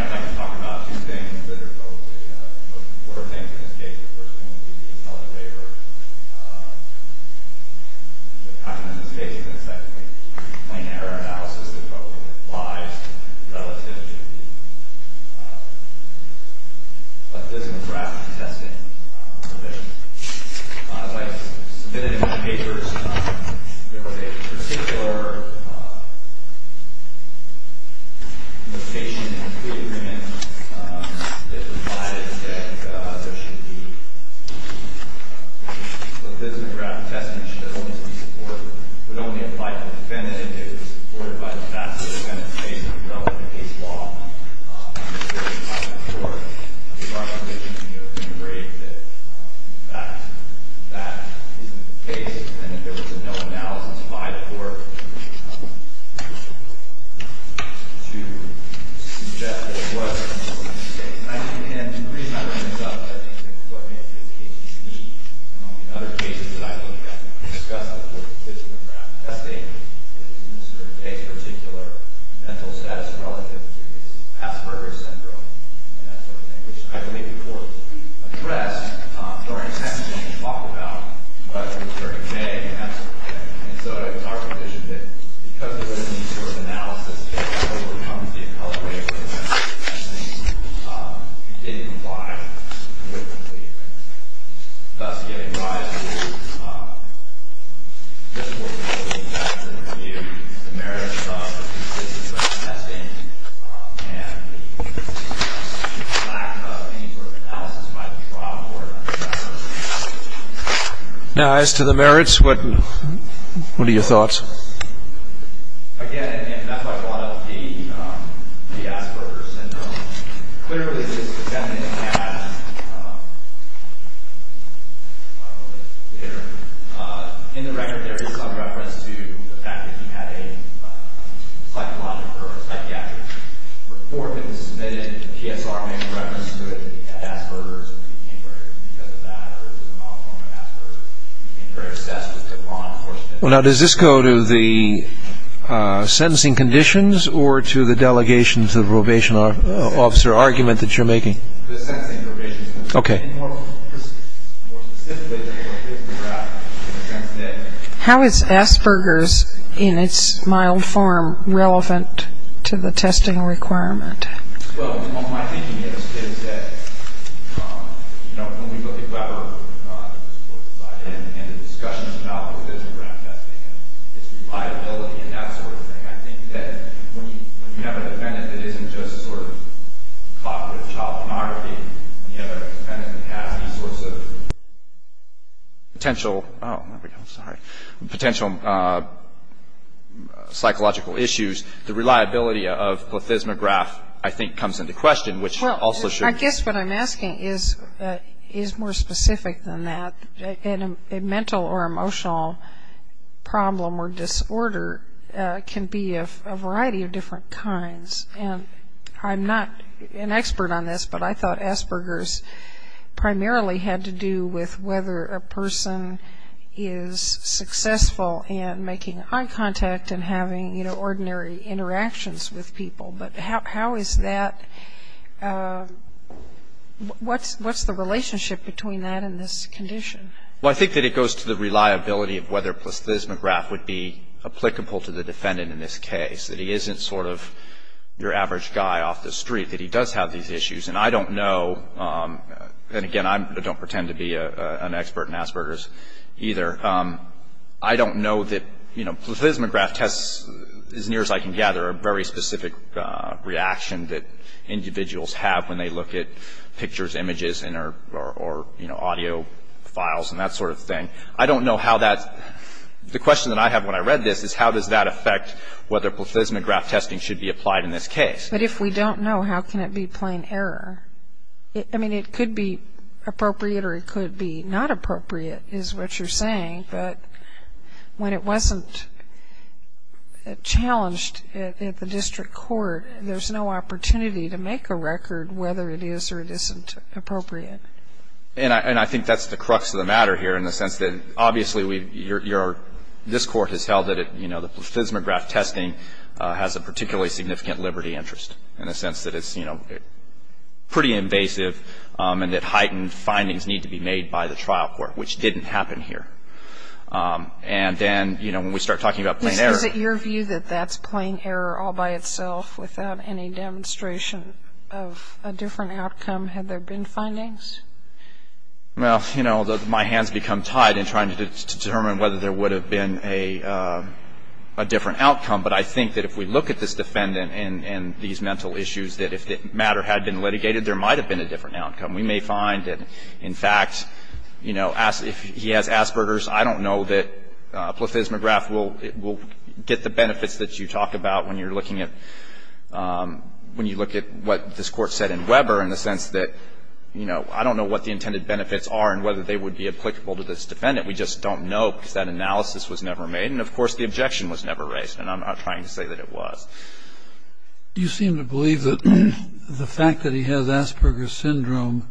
This morning I'd like to talk about two things that are probably the most important things in this case. The first one would be the intelligence waiver. The second would be plain error analysis that probably applies relative to the physical draft of the testing provision. As I've submitted in my papers, there was a particular notation in the plea agreement that provided that there should be the physical draft of testing should only be supported, would only apply to the defendant if it was supported by the facts of the defendant's case in the relevant case law. I'm not sure if our position can be of any grade that that isn't the case. And if there was no analysis by the court to suggest that it wasn't the case. And the reason I bring this up is I think this is what makes this case unique. Among the other cases that I've looked at that discuss the physical draft of testing is Mr. Aday's particular mental status relative to his Asperger's syndrome, and that sort of thing, which I believe the court addressed during sentencing and talked about during May and that sort of thing. And so it's our position that because there wasn't any sort of analysis, the appellate rate for the sentencing didn't apply to the plea agreement. Thus giving rise to this work that we've done to review the merits of the consistency of testing and the lack of any sort of analysis by the trial court. Now, as to the merits, what are your thoughts? Again, and that's why I brought up the Asperger's syndrome. Clearly, this was done in the past. I don't know if it's clear. In the record, there is some reference to the fact that he had a psychiatric report that was submitted. The PSR made reference to it. He had Asperger's and became very, because of that, or it was a mild form of Asperger's, became very obsessed with law enforcement. Well, now, does this go to the sentencing conditions or to the delegation to the probation officer argument that you're making? The sentencing conditions. Okay. More specifically, how is Asperger's in its mild form relevant to the testing requirement? Well, my thinking is that, you know, when we look at Weber, and the discussion about plethysmograph testing and its reliability and that sort of thing, I think that when you have a defendant that isn't just sort of caught with child pornography, and the other defendant has these sorts of potential, oh, there we go, sorry, potential psychological issues, the reliability of plethysmograph, I think, comes into question, which also should. Well, I guess what I'm asking is more specific than that. A mental or emotional problem or disorder can be a variety of different kinds, and I'm not an expert on this, but I thought Asperger's primarily had to do with whether a person is successful in making eye contact and having, you know, ordinary interactions with people. But how is that, what's the relationship between that and this condition? Well, I think that it goes to the reliability of whether plethysmograph would be applicable to the defendant in this case, that he isn't sort of your average guy off the street, that he does have these issues. And I don't know, and again, I don't pretend to be an expert in Asperger's either, I don't know that, you know, plethysmograph tests, as near as I can gather, are a very specific reaction that individuals have when they look at pictures, images, or, you know, audio files and that sort of thing. I don't know how that's, the question that I have when I read this is, how does that affect whether plethysmograph testing should be applied in this case? But if we don't know, how can it be plain error? I mean, it could be appropriate or it could be not appropriate is what you're saying. But when it wasn't challenged at the district court, there's no opportunity to make a record whether it is or it isn't appropriate. And I think that's the crux of the matter here in the sense that, obviously, this Court has held that, you know, the plethysmograph testing has a particularly significant liberty interest in the sense that it's, you know, pretty invasive and that heightened findings need to be made by the trial court, which didn't happen here. And then, you know, when we start talking about plain error. Is it your view that that's plain error all by itself without any demonstration of a different outcome? Had there been findings? Well, you know, my hands become tied in trying to determine whether there would have been a different outcome. But I think that if we look at this defendant and these mental issues, that if the matter had been litigated, there might have been a different outcome. We may find that, in fact, you know, if he has Asperger's, I don't know that plethysmograph will get the benefits that you talk about when you're looking at, when you look at what this Court said in Weber in the sense that, you know, I don't know what the intended benefits are and whether they would be applicable to this defendant. We just don't know because that analysis was never made. And, of course, the objection was never raised. And I'm not trying to say that it was. Do you seem to believe that the fact that he has Asperger's syndrome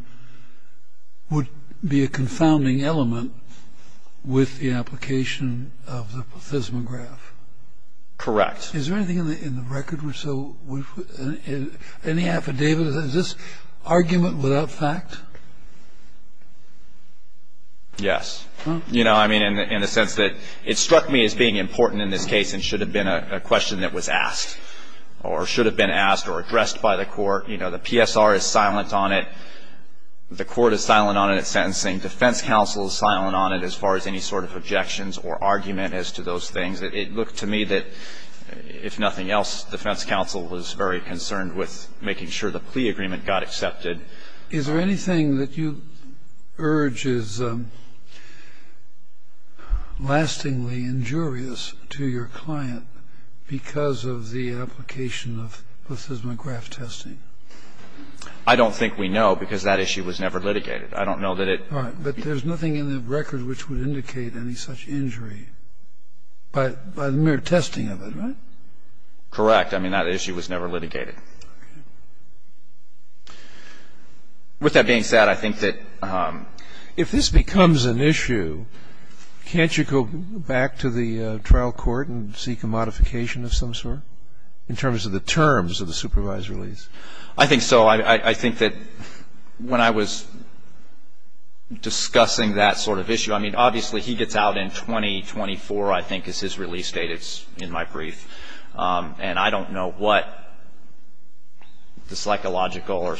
would be a confounding element with the application of the plethysmograph? Correct. Is there anything in the record which so, any affidavit, is this argument without fact? Yes. You know, I mean, in the sense that it struck me as being important in this case and should have been a question that was asked or should have been asked or addressed by the Court. You know, the PSR is silent on it. The Court is silent on its sentencing. Defense counsel is silent on it as far as any sort of objections or argument as to those things. It looked to me that, if nothing else, defense counsel was very concerned with making sure the plea agreement got accepted. Is there anything that you urge is lastingly injurious to your client because of the application of plethysmograph testing? I don't think we know because that issue was never litigated. I don't know that it ---- All right. But there's nothing in the record which would indicate any such injury. By the mere testing of it, right? Correct. I mean, that issue was never litigated. Okay. With that being said, I think that ---- If this becomes an issue, can't you go back to the trial court and seek a modification of some sort in terms of the terms of the supervisory release? I think so. I think that when I was discussing that sort of issue, I mean, obviously he gets out in 2024, I think, is his release date. It's in my brief. And I don't know what the psychological or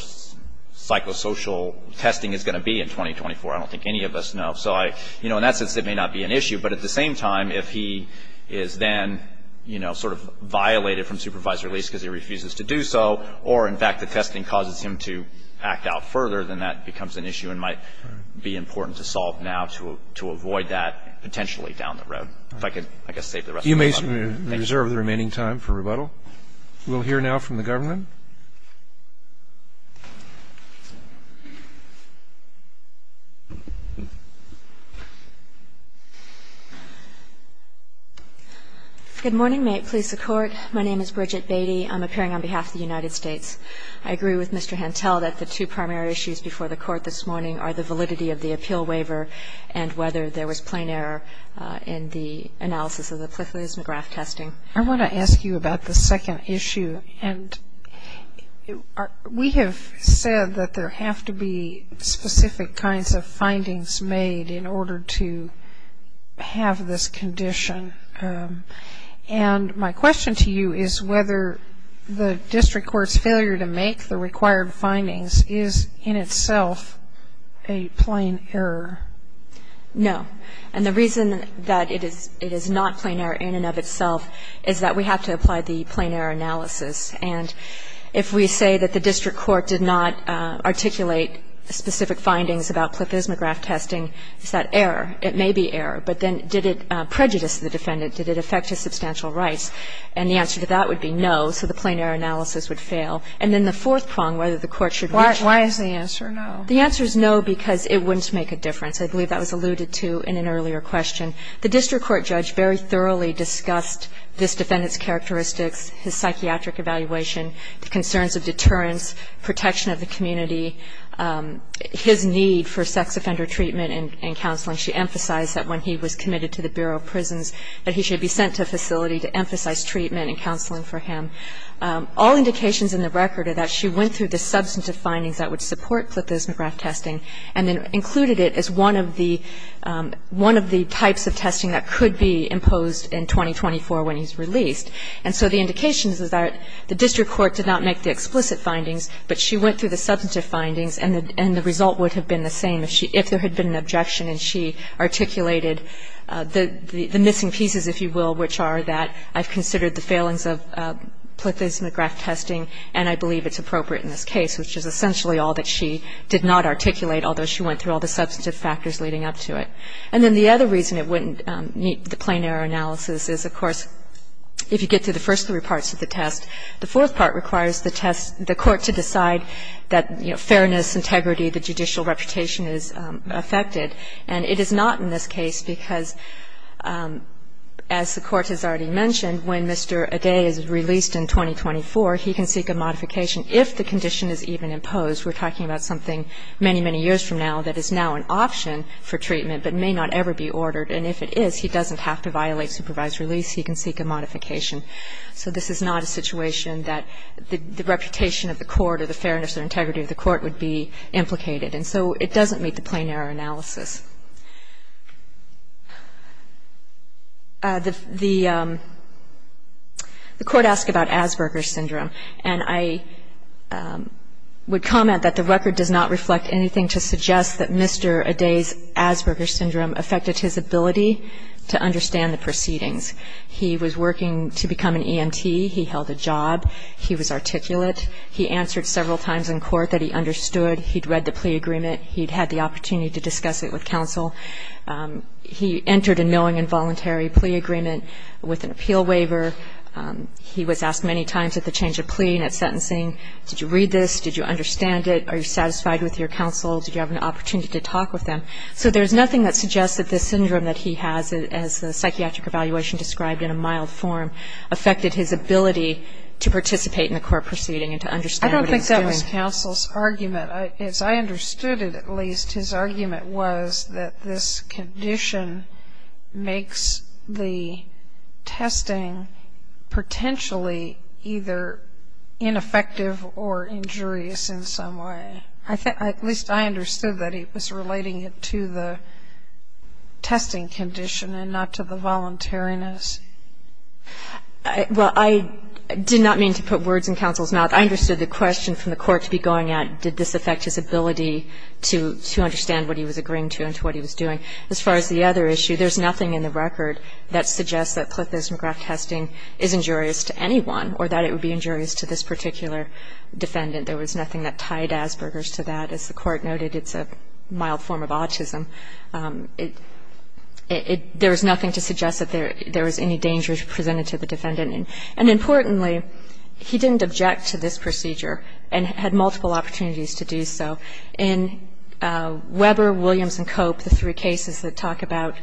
psychosocial testing is going to be in 2024. I don't think any of us know. So, you know, in that sense, it may not be an issue. But at the same time, if he is then, you know, sort of violated from supervisory release because he refuses to do so, or, in fact, the testing causes him to act out further, then that becomes an issue and might be important to solve now to avoid that potentially down the road. If I could, I guess, save the rest of my time. Thank you. You may reserve the remaining time for rebuttal. We'll hear now from the government. Good morning. May it please the Court. My name is Bridget Beatty. I'm appearing on behalf of the United States. I agree with Mr. Hantel that the two primary issues before the Court this morning are the validity of the appeal waiver and whether there was plain error in the analysis of the plethysmograph testing. I want to ask you about the second issue. And we have said that there have to be specific kinds of findings made in order to have this condition. And my question to you is whether the district court's failure to make the required findings is, in itself, a plain error. No. And the reason that it is not plain error in and of itself is that we have to apply the plain error analysis. And if we say that the district court did not articulate specific findings about plethysmograph testing, is that error? It may be error. But then did it prejudice the defendant? Did it affect his substantial rights? And the answer to that would be no. So the plain error analysis would fail. And then the fourth prong, whether the Court should reach it. Why is the answer no? The answer is no because it wouldn't make a difference. I believe that was alluded to in an earlier question. The district court judge very thoroughly discussed this defendant's characteristics, his psychiatric evaluation, the concerns of deterrence, protection of the community, his need for sex offender treatment and counseling. She emphasized that when he was committed to the Bureau of Prisons that he should be sent to a facility to emphasize treatment and counseling for him. All indications in the record are that she went through the substantive findings that would support plethysmograph testing and then included it as one of the types of testing that could be imposed in 2024 when he's released. And so the indication is that the district court did not make the explicit findings, but she went through the substantive findings and the result would have been the same if there had been an objection and she articulated the missing pieces, if you will, which are that I've considered the failings of plethysmograph testing and I believe it's appropriate in this case, which is essentially all that she did not articulate, although she went through all the substantive factors leading up to it. And then the other reason it wouldn't meet the plain error analysis is, of course, if you get to the first three parts of the test, the fourth part requires the test the court to decide that, you know, fairness, integrity, the judicial reputation is affected. And it is not in this case because, as the Court has already mentioned, when Mr. Adai is released in 2024, he can seek a modification if the condition is even imposed. We're talking about something many, many years from now that is now an option for treatment but may not ever be ordered. And if it is, he doesn't have to violate supervised release. He can seek a modification. So this is not a situation that the reputation of the court or the fairness or integrity of the court would be implicated. And so it doesn't meet the plain error analysis. The Court asked about Asperger's syndrome. And I would comment that the record does not reflect anything to suggest that Mr. Adai's Asperger's syndrome affected his ability to understand the proceedings. He was working to become an EMT. He held a job. He was articulate. He answered several times in court that he understood. He'd read the plea agreement. He'd had the opportunity to discuss it with counsel. He entered a knowing and voluntary plea agreement with an appeal waiver. He was asked many times at the change of plea and at sentencing, did you read this? Did you understand it? Are you satisfied with your counsel? Did you have an opportunity to talk with them? So there's nothing that suggests that the syndrome that he has, as the psychiatric evaluation described in a mild form, affected his ability to participate in the court proceeding and to understand what he was doing. I don't think that was counsel's argument. As I understood it, at least, his argument was that this condition makes the testing potentially either ineffective or injurious in some way. I think at least I understood that he was relating it to the testing condition and not to the voluntariness. Well, I did not mean to put words in counsel's mouth. I understood the question from the court to be going at did this affect his ability to understand what he was agreeing to and to what he was doing. As far as the other issue, there's nothing in the record that suggests that Clifton's McGrath testing is injurious to anyone or that it would be injurious to this particular defendant. There was nothing that tied Asperger's to that. As the court noted, it's a mild form of autism. There was nothing to suggest that there was any danger presented to the defendant. And importantly, he didn't object to this procedure and had multiple opportunities to do so. In Weber, Williams, and Cope, the three cases that talk about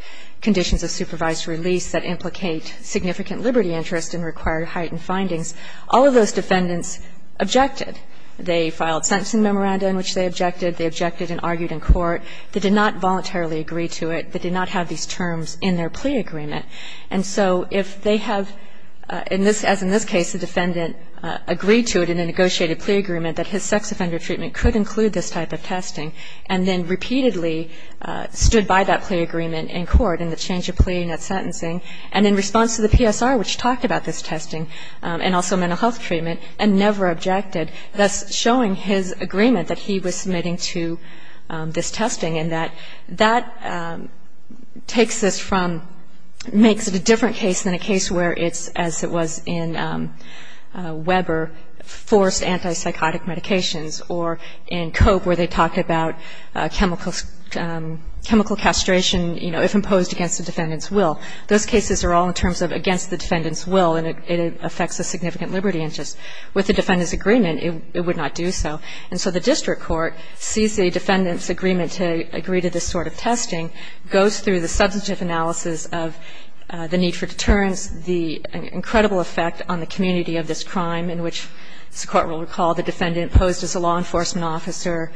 conditions of supervised release that implicate significant liberty interest and require heightened findings, all of those defendants objected. They filed sentencing memoranda in which they objected. They objected and argued in court. They did not voluntarily agree to it. They did not have these terms in their plea agreement. And so if they have, as in this case, the defendant agreed to it in a negotiated plea agreement that his sex offender treatment could include this type of testing, and then repeatedly stood by that plea agreement in court in the change of plea and that sentencing, and in response to the PSR, which talked about this testing and also mental health treatment, and never objected, thus showing his agreement that he was submitting to this testing and that that takes this from, makes it a different case than a case where it's, as it was in Weber, forced antipsychotic medications, or in Cope where they talked about chemical castration, you know, if imposed against the defendant's will. Those cases are all in terms of against the defendant's will, and it affects the significant liberty interest. With the defendant's agreement, it would not do so. And so the district court sees the defendant's agreement to agree to this sort of testing, goes through the substantive analysis of the need for deterrence, the incredible effect on the community of this crime, in which, as the Court will recall, the defendant posed as a law enforcement officer,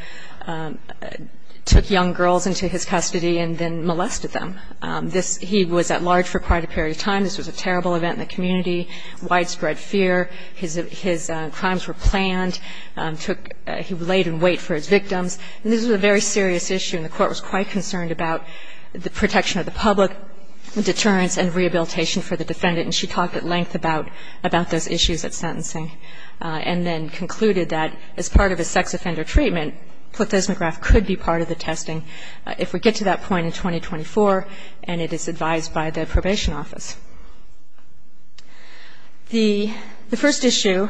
took young girls into his custody, and then molested them. This, he was at large for quite a period of time. This was a terrible event in the community, widespread fear. His crimes were planned, took, he laid in wait for his victims, and this was a very serious issue, and the Court was quite concerned about the protection of the public, deterrence and rehabilitation for the defendant, and she talked at length about those issues at sentencing, and then concluded that as part of a sex offender treatment, plethozomograph could be part of the testing. If we get to that point in 2024, and it is advised by the probation office. The first issue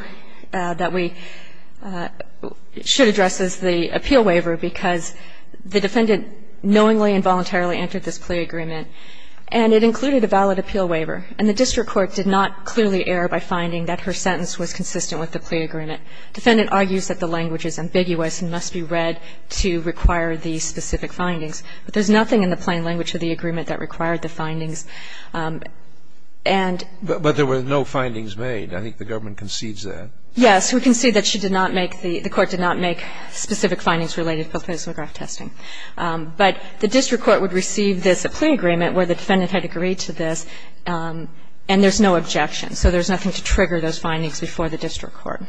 that we should address is the appeal waiver, because the defendant knowingly and voluntarily entered this plea agreement, and it included a valid appeal waiver. And the district court did not clearly err by finding that her sentence was consistent with the plea agreement. The defendant argues that the language is ambiguous and must be read to require the specific findings, but there is nothing in the plain language of the agreement that required the findings. And. But there were no findings made. I think the government concedes that. Yes, we concede that she did not make the, the Court did not make specific findings related to plethozomograph testing. But the district court would receive this plea agreement where the defendant had agreed to this, and there is no objection. So there is nothing to trigger those findings before the district court.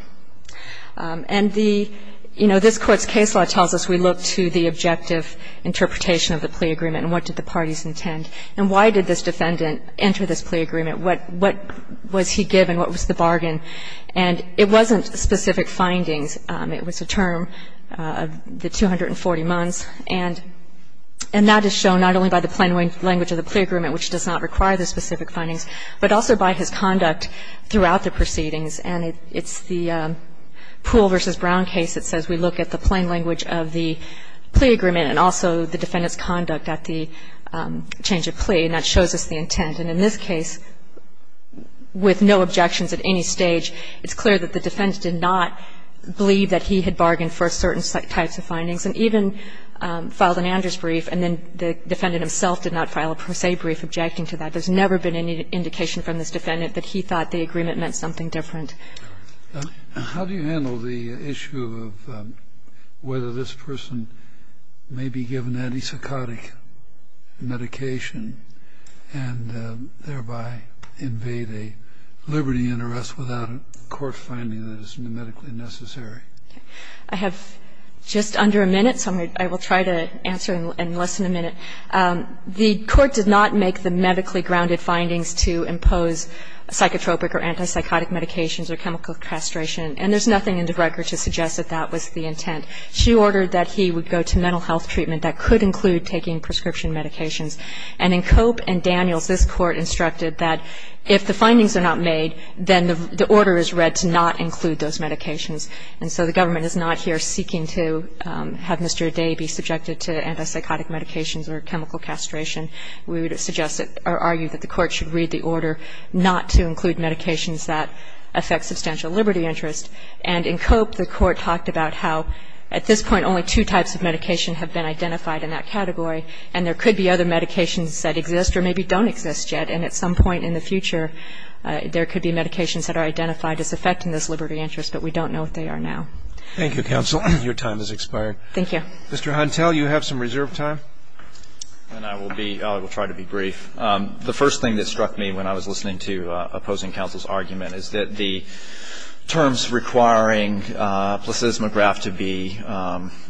And the, you know, this Court's case law tells us we look to the objective interpretation of the plea agreement and what did the parties intend. And why did this defendant enter this plea agreement? What, what was he given? What was the bargain? And it wasn't specific findings. It was a term, the 240 months. And that is shown not only by the plain language of the plea agreement, which does not require the specific findings, but also by his conduct throughout the proceedings. And it's the Poole v. Brown case that says we look at the plain language of the plea agreement and also the defendant's conduct at the change of plea, and that shows us the intent. And in this case, with no objections at any stage, it's clear that the defendant did not believe that he had bargained for certain types of findings and even filed an Anders brief, and then the defendant himself did not file a Per Se brief objecting to that. There's never been any indication from this defendant that he thought the agreement meant something different. And how do you handle the issue of whether this person may be given antipsychotic medication and thereby invade a liberty and arrest without a court finding that is medically necessary? I have just under a minute, so I will try to answer in less than a minute. The Court did not make the medically grounded findings to impose a psychotropic or antipsychotic medications or chemical castration, and there's nothing in the record to suggest that that was the intent. She ordered that he would go to mental health treatment that could include taking prescription medications. And in Cope and Daniels, this Court instructed that if the findings are not made, then the order is read to not include those medications. And so the government is not here seeking to have Mr. Day be subjected to antipsychotic medications or chemical castration. We would suggest or argue that the Court should read the order not to include medications that affect substantial liberty interest. And in Cope, the Court talked about how at this point only two types of medication have been identified in that category, and there could be other medications that exist or maybe don't exist yet. And at some point in the future, there could be medications that are identified as affecting this liberty interest, but we don't know what they are now. Thank you, counsel. Your time has expired. Thank you. Mr. Huntel, you have some reserve time. I will try to be brief. The first thing that struck me when I was listening to opposing counsel's argument is that the terms requiring placismograph to be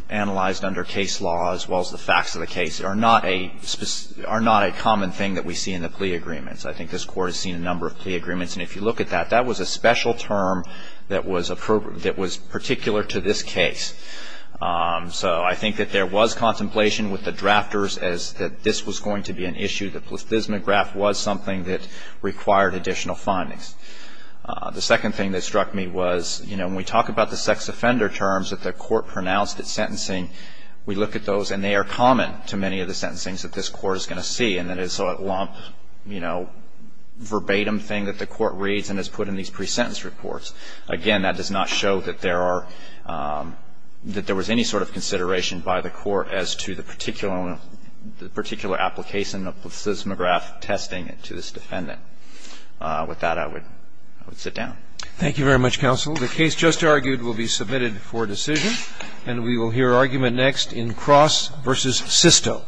analyzed under case law as well as the facts of the case are not a common thing that we see in the plea agreements. I think this Court has seen a number of plea agreements, and if you look at that, that was a special term that was particular to this case. So I think that there was contemplation with the drafters as that this was going to be an issue, that placismograph was something that required additional findings. The second thing that struck me was, you know, when we talk about the sex offender terms that the Court pronounced at sentencing, we look at those, and they are common to many of the sentencings that this Court is going to see, and that it's a lump, you know, verbatim thing that the Court reads and has put in these pre-sentence reports. Again, that does not show that there are – that there was any sort of consideration by the Court as to the particular application of placismograph testing to this defendant. With that, I would sit down. Roberts. Thank you very much, counsel. The case just argued will be submitted for decision, and we will hear argument next in Cross v. Sisto. Thank you, counsel.